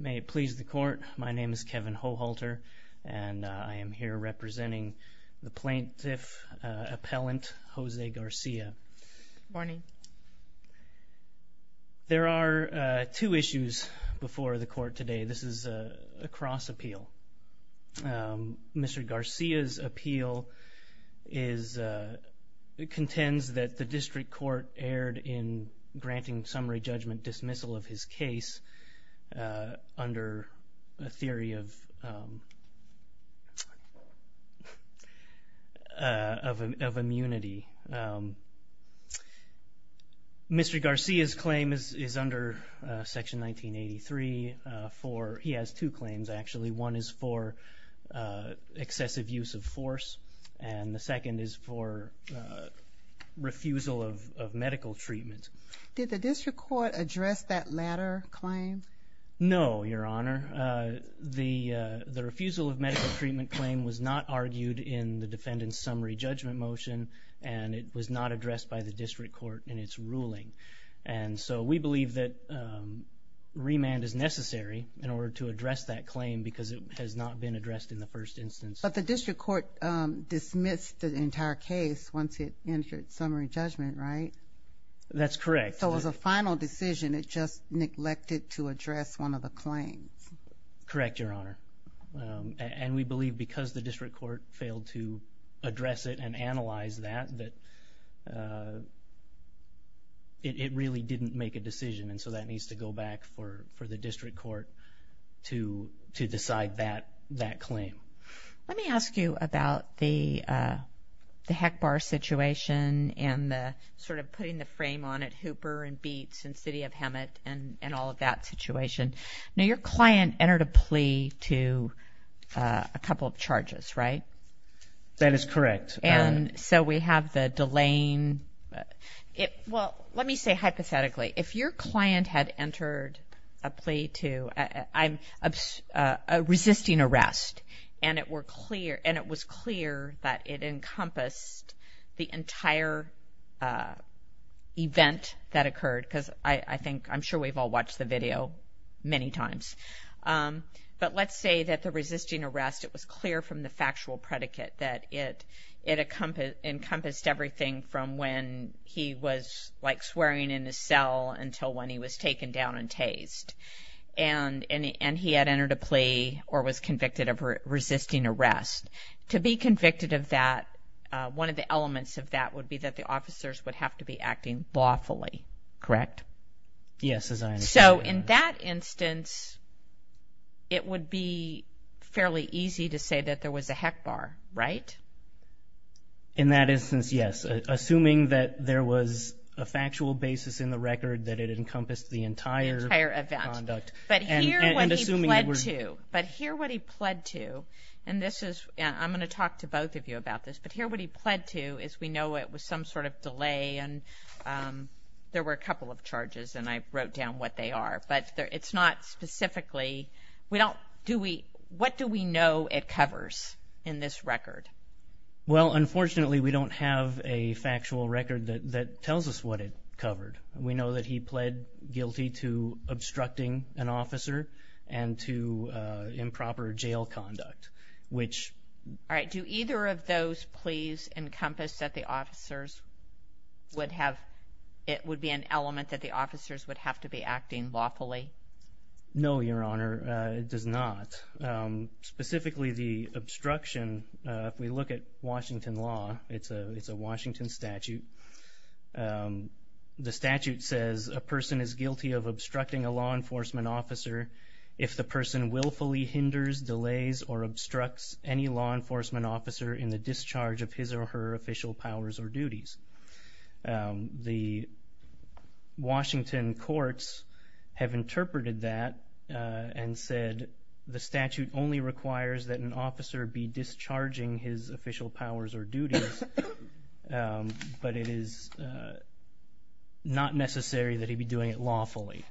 May it please the court, my name is Kevin Hohalter and I am here representing the plaintiff appellant Jose Garcia. There are two issues before the court today. This is a cross appeal. Mr. Garcia's appeal contends that the district court erred in granting summary judgment dismissal of his case under a theory of immunity. Mr. Garcia's claim is under section 1983. He has two claims actually. One is for excessive use of force and the second is for refusal of medical treatment. Did the district court address that latter claim? No, your honor. The refusal of medical treatment claim was not argued in the defendant's summary judgment motion and it was not addressed by the district court in its ruling. And so we believe that remand is necessary in order to correct. So it was a final decision, it just neglected to address one of the claims. Correct, your honor. And we believe because the district court failed to address it and analyze that, that it really didn't make a decision and so that needs to go back for the district court to decide that and City of Hemet and all of that situation. Now your client entered a plea to a couple of charges, right? That is correct. And so we have the delaying, well let me say hypothetically, if your client had entered a plea to a resisting arrest and it was clear that it encompassed the entire event that occurred because I think, I'm sure we've all watched the video many times. But let's say that the resisting arrest, it was clear from the factual predicate that it encompassed everything from when he was like swearing in his cell until when he was taken down and officers would have to be acting lawfully. Correct? Yes. So in that instance, it would be fairly easy to say that there was a heck bar, right? In that instance, yes. Assuming that there was a factual basis in the record that it encompassed the entire event. The entire event. But here what he pled to is we know it was some sort of delay and there were a couple of charges and I wrote down what they are. But it's not specifically, what do we know it covers in this record? Well unfortunately we don't have a factual record that tells us what it covered. We know that he pled guilty to encompass that the officers would have, it would be an element that the officers would have to be acting lawfully. No, Your Honor, it does not. Specifically the obstruction, if we look at Washington law, it's a Washington statute. The statute says a person is guilty of obstructing a law for official powers or duties. The Washington courts have interpreted that and said the statute only requires that an officer be discharging his official powers or duties but it is not necessary that he be doing it lawfully.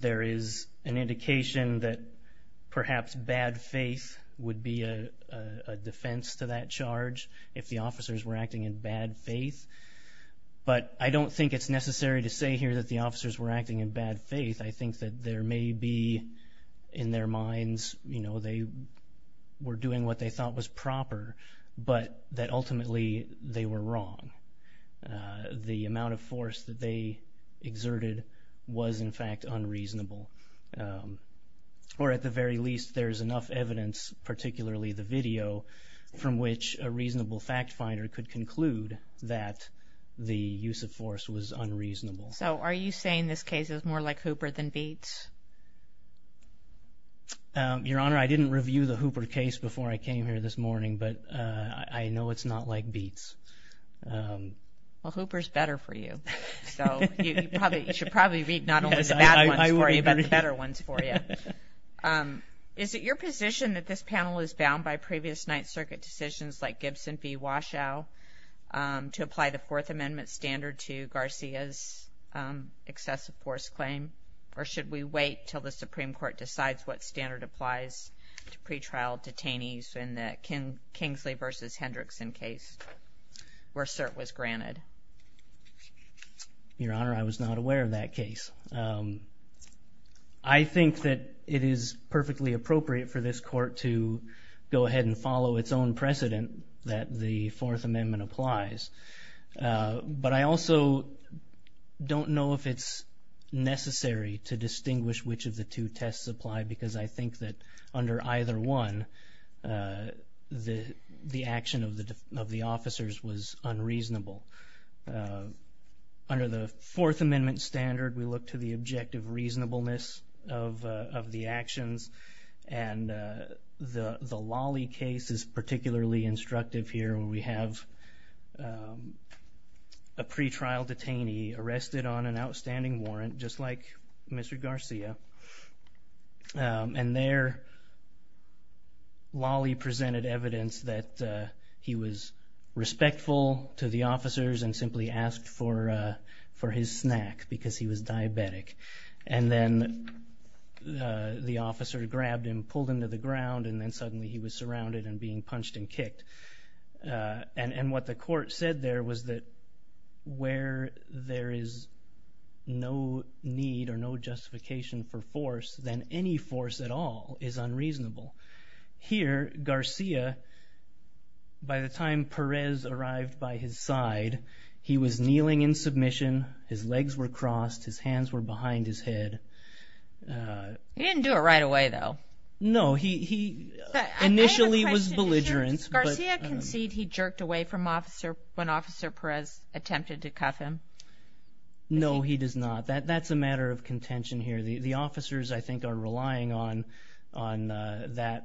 There is an indication that perhaps bad faith would be a defense to that if the officers were acting in bad faith but I don't think it's necessary to say here that the officers were acting in bad faith. I think that there may be in their minds, you know, they were doing what they thought was proper but that ultimately they were wrong. The amount of force that they exerted was in fact unreasonable or at the very least there's enough evidence, particularly the video, from which a reasonable fact finder could conclude that the use of force was unreasonable. So are you saying this case is more like Hooper than Beats? Your Honor, I didn't review the Hooper case before I came here this morning but I know it's not like Beats. Well Hooper's better for you so you should probably read not only the bad ones for you but the better ones for you. Is it your position that this panel is bound by previous Ninth Circuit decisions like Gibson v. Waschow to apply the Fourth Amendment standard to Garcia's excessive force claim or should we wait till the Supreme Court decides what standard applies to pretrial detainees in the Kingsley v. Hendrickson case where cert was granted? Your Honor, I was not aware of that case. I think that it is perfectly appropriate for this court to go ahead and follow its own precedent that the Fourth Amendment applies but I also don't know if it's necessary to distinguish which of the two tests apply because I think that under either one the action of the officers was unreasonable. Under the Fourth Amendment the trial detainee arrested on an outstanding warrant just like Mr. Garcia and there Lawley presented evidence that he was respectful to the officers and simply asked for his snack because he was diabetic and then the officer grabbed him, pulled him to the ground and then suddenly he was surrounded and being punched and kicked. And what the court said there was that where there is no need or no justification for force then any force at all is unreasonable. Here Garcia by the time Perez arrived by his side he was kneeling in submission, his legs were crossed, his hands were behind his head. He didn't do it right away though. No, he initially was belligerent. Does Garcia concede he jerked away when Officer Perez attempted to cuff him? No, he does not. That's a matter of contention here. The officers I think are relying on their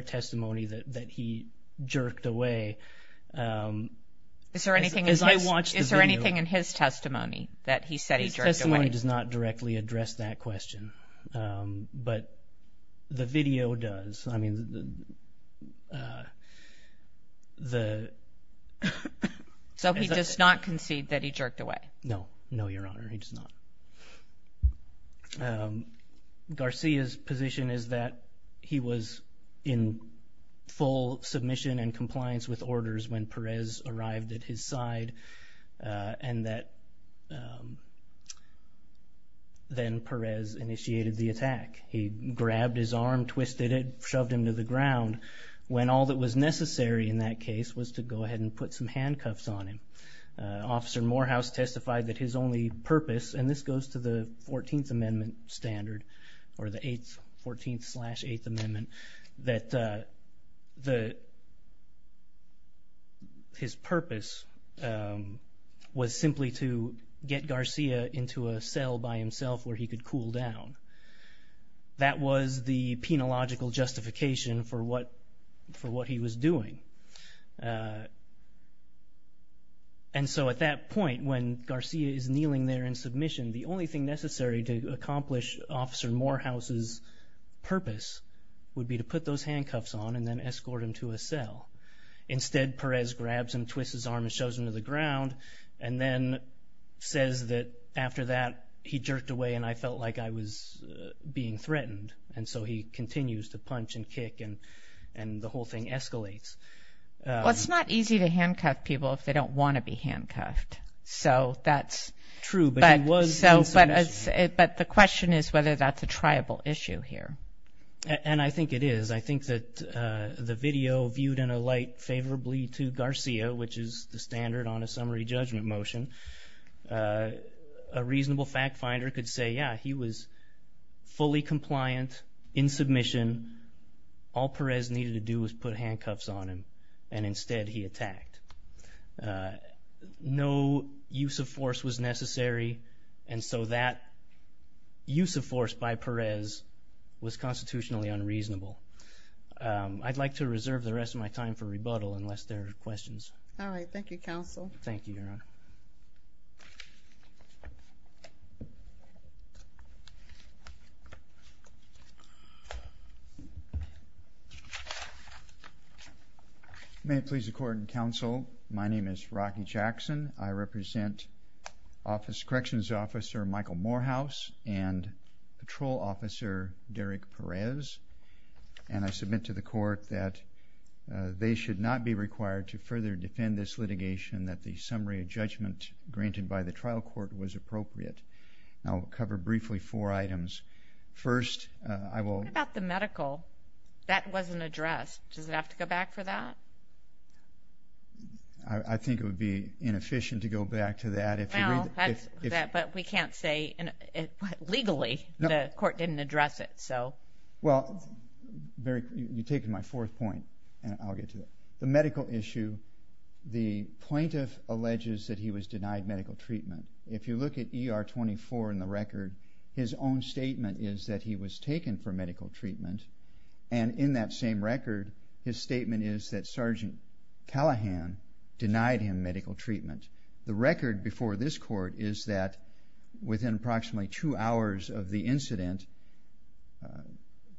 testimony that he jerked away. Is there anything in his testimony that he said he jerked away? His testimony does not directly address that question but the video does. So he does not concede that he jerked away? No, no Your Honor, he does not. Garcia's position is that he was in full submission and compliance with orders when Perez arrived at his side and that then Perez initiated the attack. He grabbed his arm, twisted it, shoved him to the ground when all that was necessary in that case was to go ahead and put some handcuffs on him. Officer Morehouse testified that his only purpose, and this goes to the 14th Amendment standard or the 14th slash 8th Amendment, that his purpose was simply to get Garcia into a cell by himself where he could cool down. That was the penological justification for what he was doing. And so at that point when Garcia is kneeling there in submission, the only thing necessary to accomplish Officer Morehouse's purpose would be to put those handcuffs on and then escort him to a cell. Instead Perez grabs him, twists his arm and shoves him to the ground and then says that after that he jerked away and I felt like I was being threatened. And so he continues to punch and kick and the whole thing escalates. Well it's not easy to handcuff people if they don't want to be handcuffed. So that's... True, but he was in submission. But the question is whether that's a triable issue here. And I think it is. I think that the video viewed in a light favorably to Garcia, which is the standard on a summary judgment motion, a reasonable fact finder could say yeah, he was fully compliant in submission, all Perez needed to do was put handcuffs on him and instead he attacked. No use of force was necessary and so that use of force by Perez was constitutionally unreasonable. I'd like to reserve the rest of my time for rebuttal unless there are questions. Alright, thank you counsel. Thank you, Your Honor. May it please the court and counsel, my name is Rocky Jackson. I represent Corrections Officer Michael Morehouse and Patrol Officer Derek Perez. And I submit to the court that they should not be required to further defend this litigation that the summary judgment granted by the trial court was appropriate. I'll cover briefly four items. First, I will... What about the medical? That wasn't addressed. Does it have to go back for that? I think it would be inefficient to go back to that if... Well, but we can't say legally the court didn't address it, so... Well, you've taken my fourth point and I'll get to it. The medical issue, the plaintiff alleges that he was denied medical treatment. If you look at ER 24 in the record, his own statement is that he was taken for medical treatment and in that same record, his statement is that Sergeant Callahan denied him medical treatment. The record before this court is that within approximately two hours of the incident,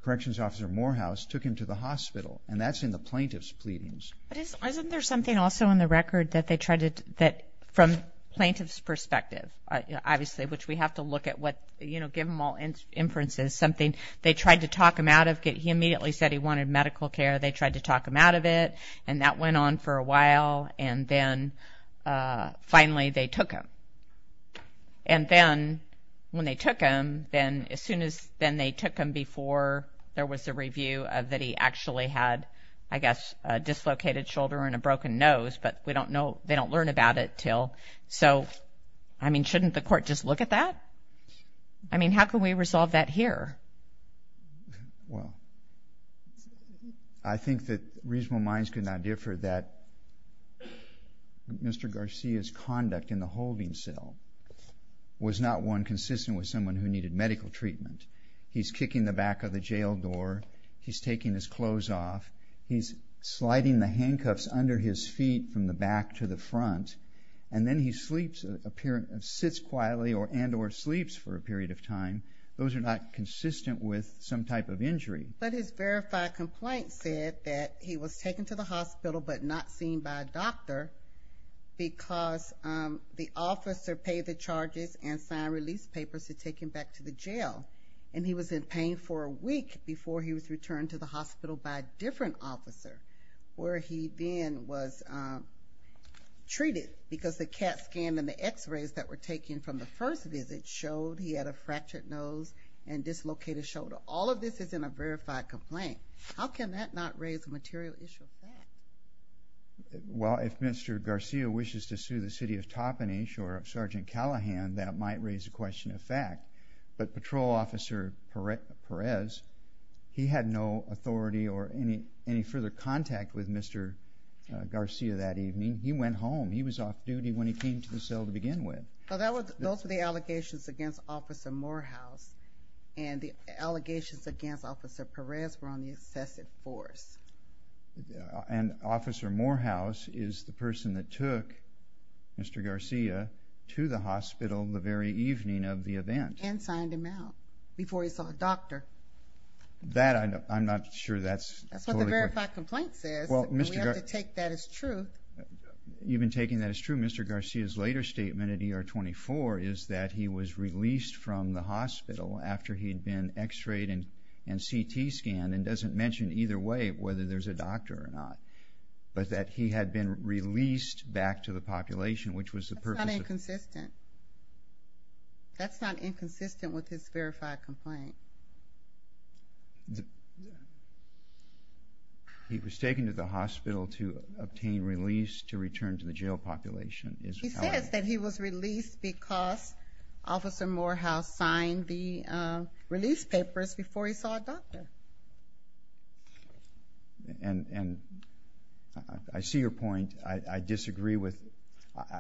Corrections Officer Morehouse took him to the hospital and that's in the plaintiff's pleadings. But isn't there something also in the record that they tried to... that from plaintiff's perspective, obviously, which we have to look at what, you know, give them all inferences, something... They tried to talk him out of... he immediately said he wanted medical care. They tried to talk him out of it and that went on for a while and then finally they took him. And then when they took him, then as soon as... then they took him before there was a review of that he actually had, I guess, a dislocated shoulder and a broken nose, but we don't know... they don't learn about it till... So, I mean, shouldn't the court just look at that? I mean, how can we resolve that here? Well, I think that reasonable minds could not differ that Mr. Garcia's conduct in the holding cell was not one consistent with someone who needed medical treatment. He's kicking the back of the jail door, he's taking his clothes off, he's sliding the handcuffs under his feet from the back to the front, and then he sleeps... sits quietly and or sleeps for a period of time. Those are not consistent with some type of injury. But his verified complaint said that he was taken to the hospital but not seen by a doctor because the officer paid the charges and signed release papers to take him back to the jail. And he was in pain for a week before he was returned to the hospital by a different officer where he then was treated because the CAT scan and the x-rays that were taken from the first visit showed he had a fractured nose and dislocated shoulder. So all of this is in a verified complaint. How can that not raise a material issue of fact? Well, if Mr. Garcia wishes to sue the city of Toppenish or Sergeant Callahan, that might raise a question of fact. But Patrol Officer Perez, he had no authority or any further contact with Mr. Garcia that evening. He went home. He was off duty when he came to the cell to begin with. Well, those were the allegations against Officer Morehouse, and the allegations against Officer Perez were on the excessive force. And Officer Morehouse is the person that took Mr. Garcia to the hospital the very evening of the event. And signed him out before he saw a doctor. That, I'm not sure that's totally correct. That's what the verified complaint says. We have to take that as true. You've been taking that as true. Mr. Garcia's later statement at ER 24 is that he was released from the hospital after he'd been x-rayed and CT scanned, and doesn't mention either way whether there's a doctor or not. But that he had been released back to the population, which was the purpose of... That's not inconsistent. That's not inconsistent with his verified complaint. He was taken to the hospital to obtain release to return to the jail population. He says that he was released because Officer Morehouse signed the release papers before he saw a doctor. And I see your point. I disagree with...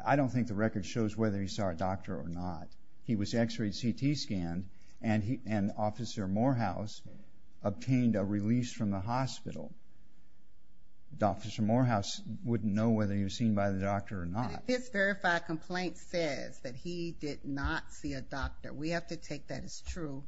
I don't think the record shows whether he saw a doctor or not. He was x-rayed, CT scanned, and Officer Morehouse obtained a release from the hospital. Officer Morehouse wouldn't know whether he was seen by the doctor or not. But his verified complaint says that he did not see a doctor. We have to take that as true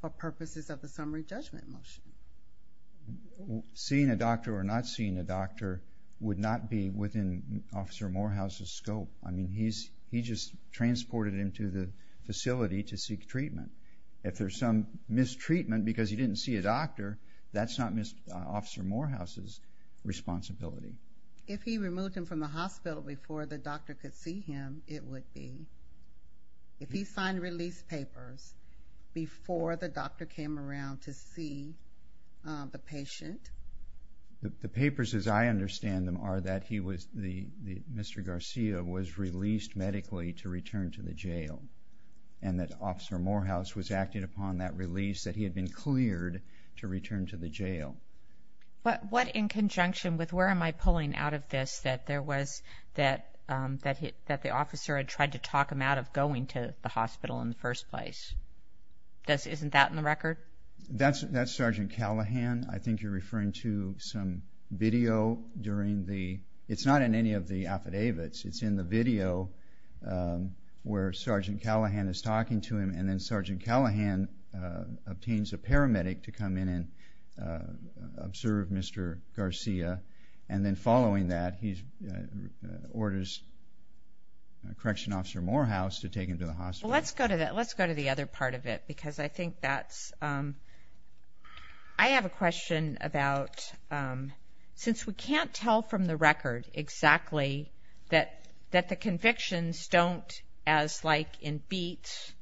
for purposes of the summary judgment motion. Seeing a doctor or not seeing a doctor would not be within Officer Morehouse's scope. I mean, he just transported him to the facility to seek treatment. If there's some mistreatment because he didn't see a doctor, that's not Officer Morehouse's responsibility. If he removed him from the hospital before the doctor could see him, it would be. If he signed release papers before the doctor came around to see the patient... The papers as I understand them are that Mr. Garcia was released medically to return to the jail. And that Officer Morehouse was acting upon that release that he had been cleared to return to the jail. What in conjunction with where am I pulling out of this that the officer had tried to talk him out of going to the hospital in the first place? Isn't that in the record? That's Sergeant Callahan. I think you're referring to some video during the... It's not in any of the affidavits. It's in the video where Sergeant Callahan is talking to him. And then Sergeant Callahan obtains a paramedic to come in and observe Mr. Garcia. And then following that, he orders Correction Officer Morehouse to take him to the hospital. Let's go to the other part of it because I think that's... I have a question about... Since we can't tell from the record exactly that the convictions don't, as like in Beat,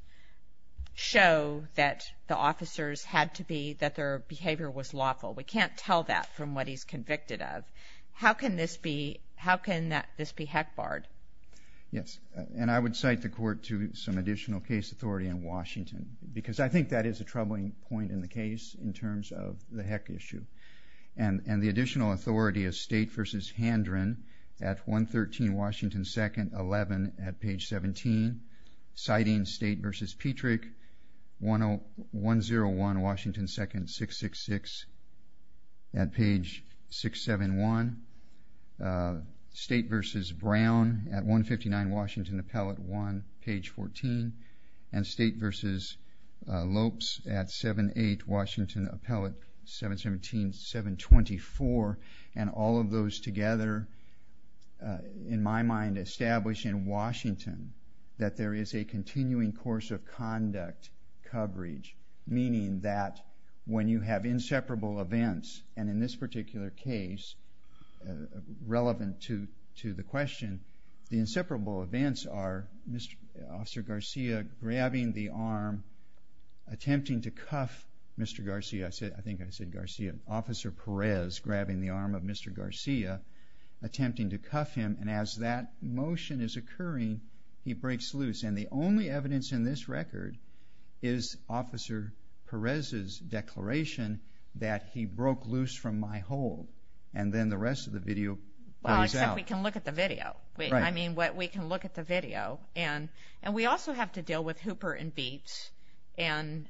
show that the officers had to be... That their behavior was lawful. We can't tell that from what he's convicted of. How can this be... How can this be heck barred? Yes. And I would cite the court to some additional case authority in Washington. Because I think that is a troubling point in the case in terms of the heck issue. And the additional authority is State v. Handren at 113 Washington 2nd, 11 at page 17. Citing State v. Petrick, 101 Washington 2nd, 666 at page 671. State v. Brown at 159 Washington Appellate 1, page 14. And State v. Lopes at 78 Washington Appellate 717, 724. And all of those together, in my mind, establish in Washington that there is a continuing course of conduct coverage. Meaning that when you have inseparable events, and in this particular case, relevant to the question, the inseparable events are Officer Garcia grabbing the arm, attempting to cuff Mr. Garcia. I think I said Garcia. Officer Perez grabbing the arm of Mr. Garcia, attempting to cuff him. And as that motion is occurring, he breaks loose. And the only evidence in this record is Officer Perez's declaration that he broke loose from my hold. And then the rest of the video plays out. Well, except we can look at the video. I mean, we can look at the video. And we also have to deal with Hooper and Beets. And,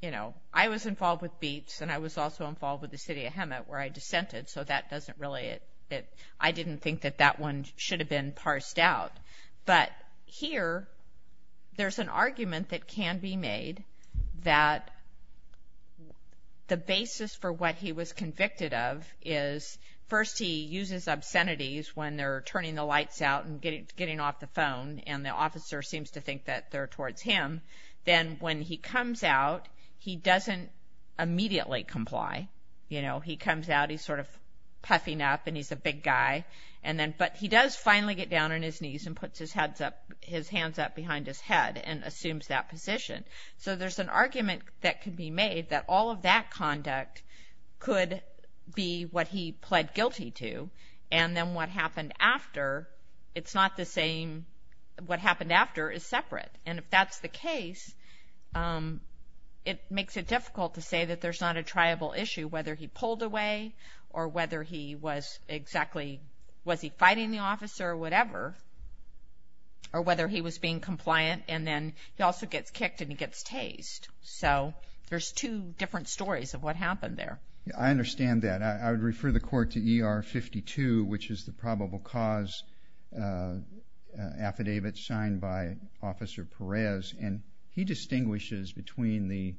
you know, I was involved with Beets, and I was also involved with the city of Hemet, where I dissented. So that doesn't really, I didn't think that that one should have been parsed out. But here, there's an argument that can be made that the basis for what he was convicted of is, first he uses obscenities when they're turning the lights out and getting off the phone, and the officer seems to think that they're towards him. Then when he comes out, he doesn't immediately comply. You know, he comes out, he's sort of puffing up, and he's a big guy. But he does finally get down on his knees and puts his hands up behind his head and assumes that position. So there's an argument that can be made that all of that conduct could be what he pled guilty to. And then what happened after, it's not the same, what happened after is separate. And if that's the case, it makes it difficult to say that there's not a triable issue, whether he pulled away or whether he was exactly, was he fighting the officer or whatever, or whether he was being compliant. And then he also gets kicked and he gets tased. So there's two different stories of what happened there. I understand that. I would refer the court to ER 52, which is the probable cause affidavit signed by Officer Perez. And he distinguishes between the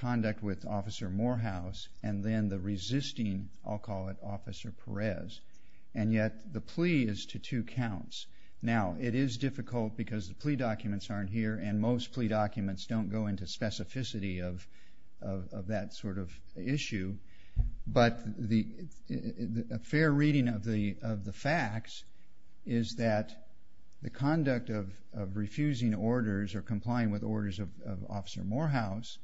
conduct with Officer Morehouse and then the resisting, I'll call it, Officer Perez. And yet the plea is to two counts. Now, it is difficult because the plea documents aren't here, and most plea documents don't go into specificity of that sort of issue. But a fair reading of the facts is that the conduct of refusing orders or complying with orders of Officer Morehouse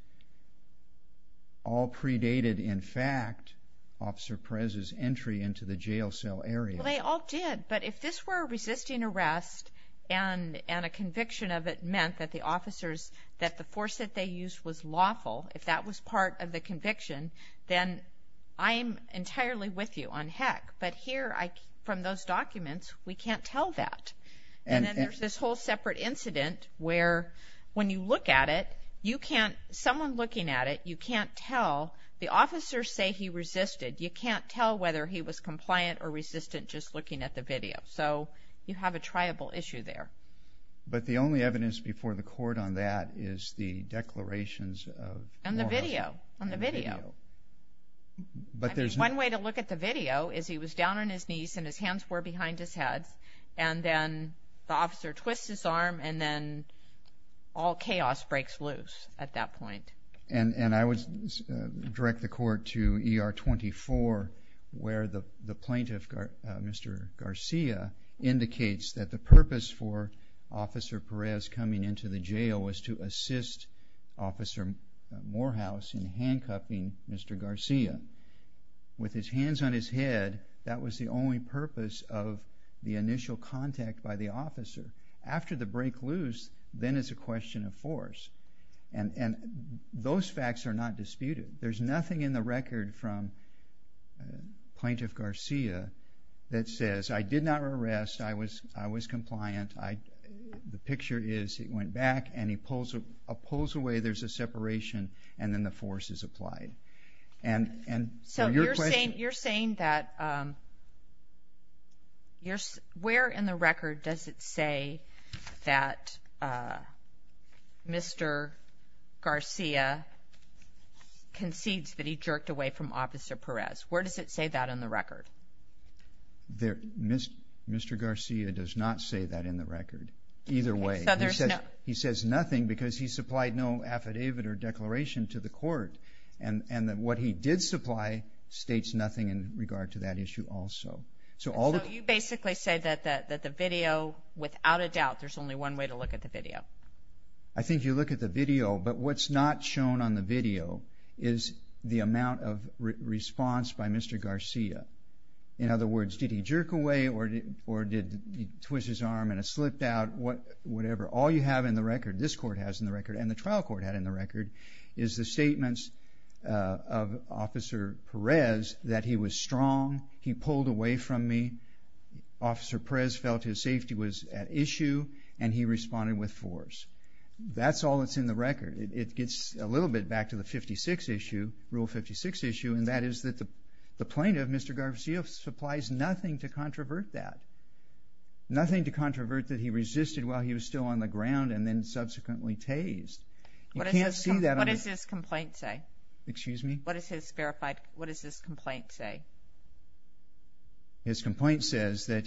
all predated, in fact, Officer Perez's entry into the jail cell area. Well, they all did. But if this were a resisting arrest and a conviction of it meant that the officers, that the force that they used was lawful, if that was part of the conviction, then I'm entirely with you on heck. But here, from those documents, we can't tell that. And then there's this whole separate incident where when you look at it, you can't, someone looking at it, you can't tell. The officers say he resisted. You can't tell whether he was compliant or resistant just looking at the video. So you have a triable issue there. But the only evidence before the court on that is the declarations of Morehouse. On the video. On the video. One way to look at the video is he was down on his knees and his hands were behind his head. And then the officer twists his arm and then all chaos breaks loose at that point. And I would direct the court to ER 24 where the plaintiff, Mr. Garcia, indicates that the purpose for Officer Perez coming into the jail was to assist Officer Morehouse in handcuffing Mr. Garcia. With his hands on his head, that was the only purpose of the initial contact by the officer. After the break loose, then it's a question of force. And those facts are not disputed. There's nothing in the record from Plaintiff Garcia that says, I did not arrest. I was compliant. The picture is he went back and he pulls away. There's a separation and then the force is applied. So you're saying that, where in the record does it say that Mr. Garcia concedes that he jerked away from Officer Perez? Where does it say that in the record? Mr. Garcia does not say that in the record, either way. He says nothing because he supplied no affidavit or declaration to the court. And what he did supply states nothing in regard to that issue also. So you basically say that the video, without a doubt, there's only one way to look at the video. I think you look at the video, but what's not shown on the video is the amount of response by Mr. Garcia. In other words, did he jerk away or did he twist his arm and it slipped out? Whatever. All you have in the record, this court has in the record and the trial court had in the record, is the statements of Officer Perez that he was strong, he pulled away from me, Officer Perez felt his safety was at issue and he responded with force. That's all that's in the record. It gets a little bit back to the 56 issue, Rule 56 issue, and that is that the plaintiff, Mr. Garcia, supplies nothing to controvert that. Nothing to controvert that he resisted while he was still on the ground and then subsequently tased. What does his complaint say? Excuse me? What does his complaint say? His complaint says that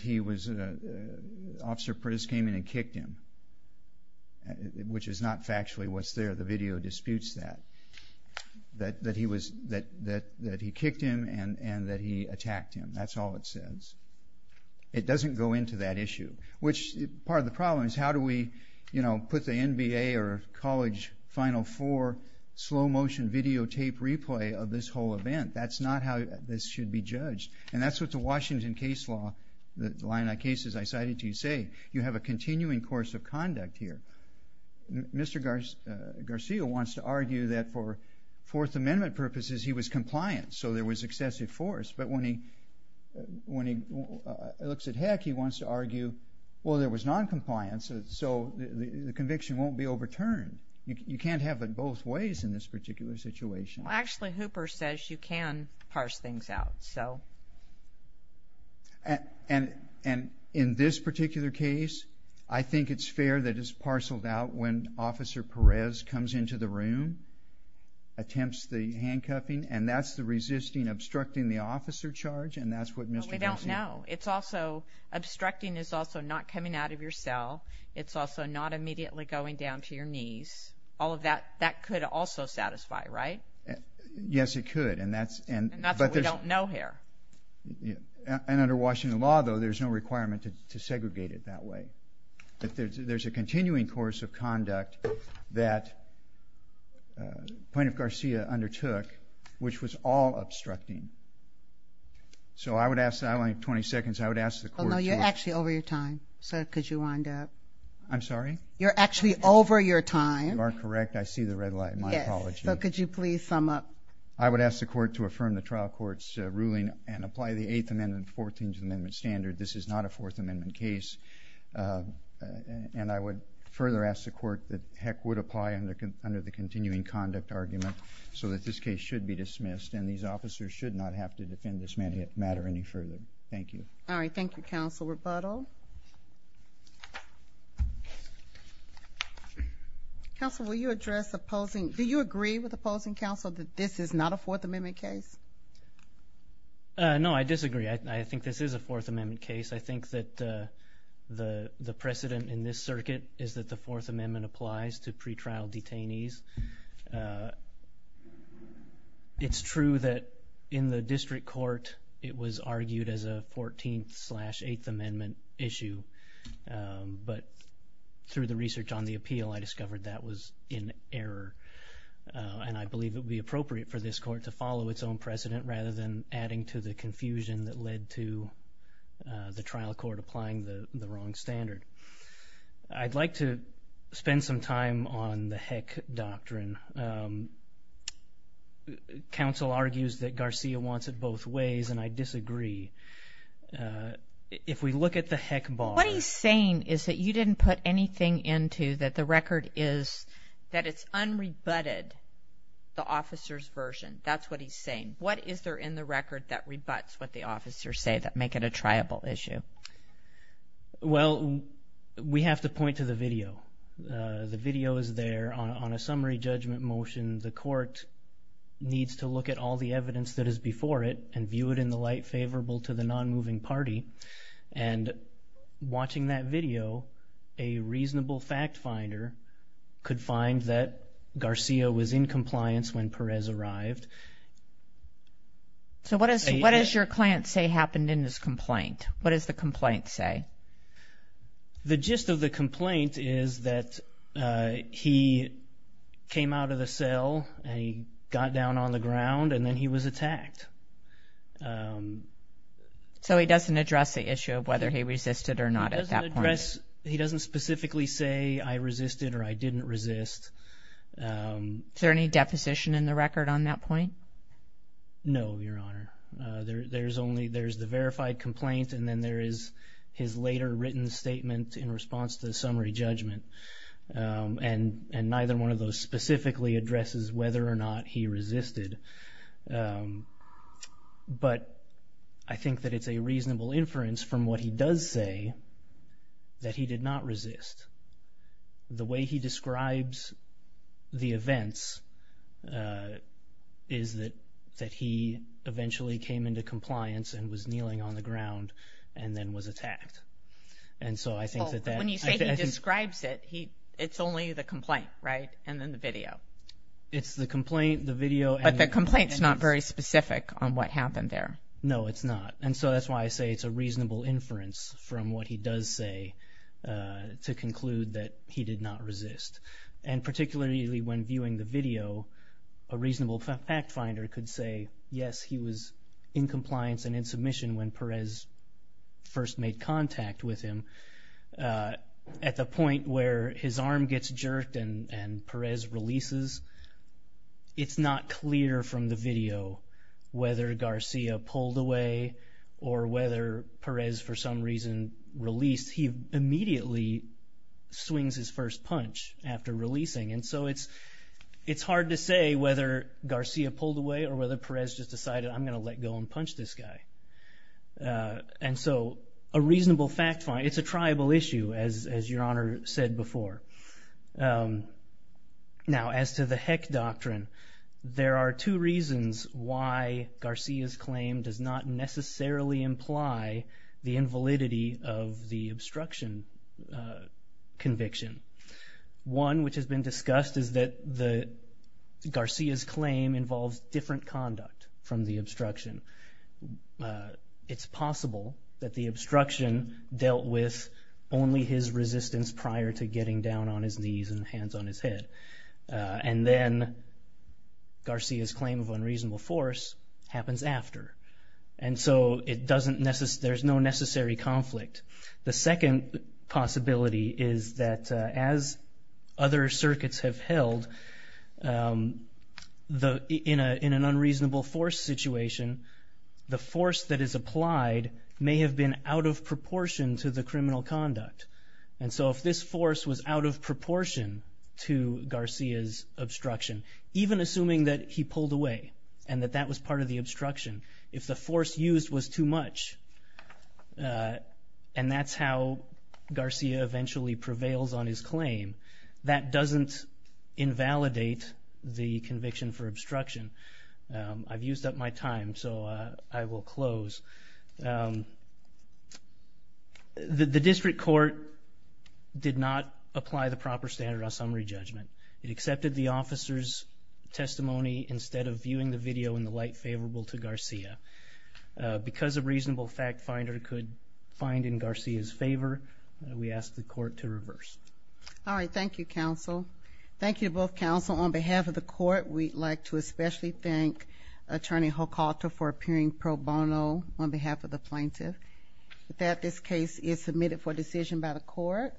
Officer Perez came in and kicked him, which is not factually what's there. The video disputes that. That he kicked him and that he attacked him. That's all it says. It doesn't go into that issue, which part of the problem is how do we, you know, put the NBA or College Final Four slow motion videotape replay of this whole event. That's not how this should be judged and that's what the Washington case law, the line of cases I cited to you say, you have a continuing course of conduct here. Mr. Garcia wants to argue that for Fourth Amendment purposes, he was compliant, so there was excessive force. But when he looks at Heck, he wants to argue, well, there was noncompliance, so the conviction won't be overturned. You can't have it both ways in this particular situation. Actually, Hooper says you can parse things out, so. And in this particular case, I think it's fair that it's parceled out when Officer Perez comes into the room, attempts the handcuffing, and that's the resisting, obstructing the officer charge, and that's what Mr. Garcia. But we don't know. It's also, obstructing is also not coming out of your cell. It's also not immediately going down to your knees. All of that, that could also satisfy, right? Yes, it could. And that's what we don't know here. And under Washington law, though, there's no requirement to segregate it that way. There's a continuing course of conduct that Plaintiff Garcia undertook, which was all obstructing. So I would ask, I only have 20 seconds, I would ask the court to... Oh, no, you're actually over your time, so could you wind up? I'm sorry? You're actually over your time. You are correct. I see the red light in my apology. Yes, so could you please sum up? I would ask the court to affirm the trial court's ruling and apply the Eighth Amendment, Fourteenth Amendment standard. This is not a Fourth Amendment case. And I would further ask the court that Heck would apply under the continuing conduct argument so that this case should be dismissed and these officers should not have to defend this matter any further. Thank you. All right, thank you, counsel. Rebuttal? Counsel, will you address opposing, do you agree with opposing counsel that this is not a Fourth Amendment case? No, I disagree. I think this is a Fourth Amendment case. I think that the precedent in this circuit is that the Fourth Amendment applies to pretrial detainees. It's true that in the district court it was argued as a Fourteenth-slash-Eighth Amendment issue, but through the research on the appeal, I discovered that was in error. And I believe it would be appropriate for this court to follow its own precedent rather than adding to the confusion that led to the trial court applying the wrong standard. I'd like to spend some time on the Heck doctrine. Counsel argues that Garcia wants it both ways, and I disagree. If we look at the Heck bar... What he's saying is that you didn't put anything into that the record is, that it's unrebutted, the officer's version. That's what he's saying. What is there in the record that rebuts what the officers say, that make it a triable issue? Well, we have to point to the video. The video is there. On a summary judgment motion, the court needs to look at all the evidence that is before it and view it in the light favorable to the nonmoving party. And watching that video, a reasonable fact finder finds that Garcia was in compliance when Perez arrived. So what does your client say happened in this complaint? What does the complaint say? The gist of the complaint is that he came out of the cell, and he got down on the ground, and then he was attacked. So he doesn't address the issue of whether he resisted or not at that point? He doesn't address, he doesn't specifically say, that he did not resist. Is there any deposition in the record on that point? No, Your Honor. There's the verified complaint, and then there is his later written statement in response to the summary judgment. And neither one of those specifically addresses whether or not he resisted. But I think that it's a reasonable inference from what he does say that he did not resist. The way he describes the events is that he eventually came into compliance and was kneeling on the ground and then was attacked. When you say he describes it, it's only the complaint, right? And then the video. It's the complaint, the video. But the complaint's not very specific on what happened there. No, it's not. And so that's why I say it's a reasonable inference from what he does say to conclude that he did not resist. And particularly when viewing the video, a reasonable fact finder could say, yes, he was in compliance and in submission when Perez first made contact with him. At the point where his arm gets jerked and Perez releases, it's not clear from the video whether Garcia pulled away or whether Perez, for some reason, released. He immediately swings his first punch after releasing. And so it's hard to say whether Garcia pulled away or whether Perez just decided I'm going to let go and punch this guy. And so a reasonable fact finder, it's a triable issue, as Your Honor said before. Now, as to the heck doctrine, there are two reasons why Garcia's claim does not necessarily imply the invalidity of the obstruction conviction. One, which has been discussed, is that Garcia's claim involves different conduct from the obstruction. It's possible that the obstruction dealt with only his resistance prior to getting down on his knees and hands on his head. And then Garcia's claim of unreasonable force happens after. And so there's no necessary conflict. The second possibility is that as other circuits have held, in an unreasonable force situation, the force that is applied may have been out of proportion to the criminal conduct. And so if this force was out of proportion to Garcia's obstruction, even assuming that he pulled away and that that was part of the obstruction, if the force used was too much, and that's how Garcia eventually prevails on his claim, that doesn't invalidate the conviction for obstruction. I've used up my time, so I will close. The district court did not apply the proper standard of summary judgment. It accepted the officer's testimony instead of viewing the video in the light favorable to Garcia. Because a reasonable fact finder could find in Garcia's favor, we ask the court to reverse. All right, thank you, counsel. Thank you to both counsel. On behalf of the court, we'd like to especially thank Attorney Hocalta for appearing pro bono on behalf of the plaintiff that this case is submitted for decision by the court.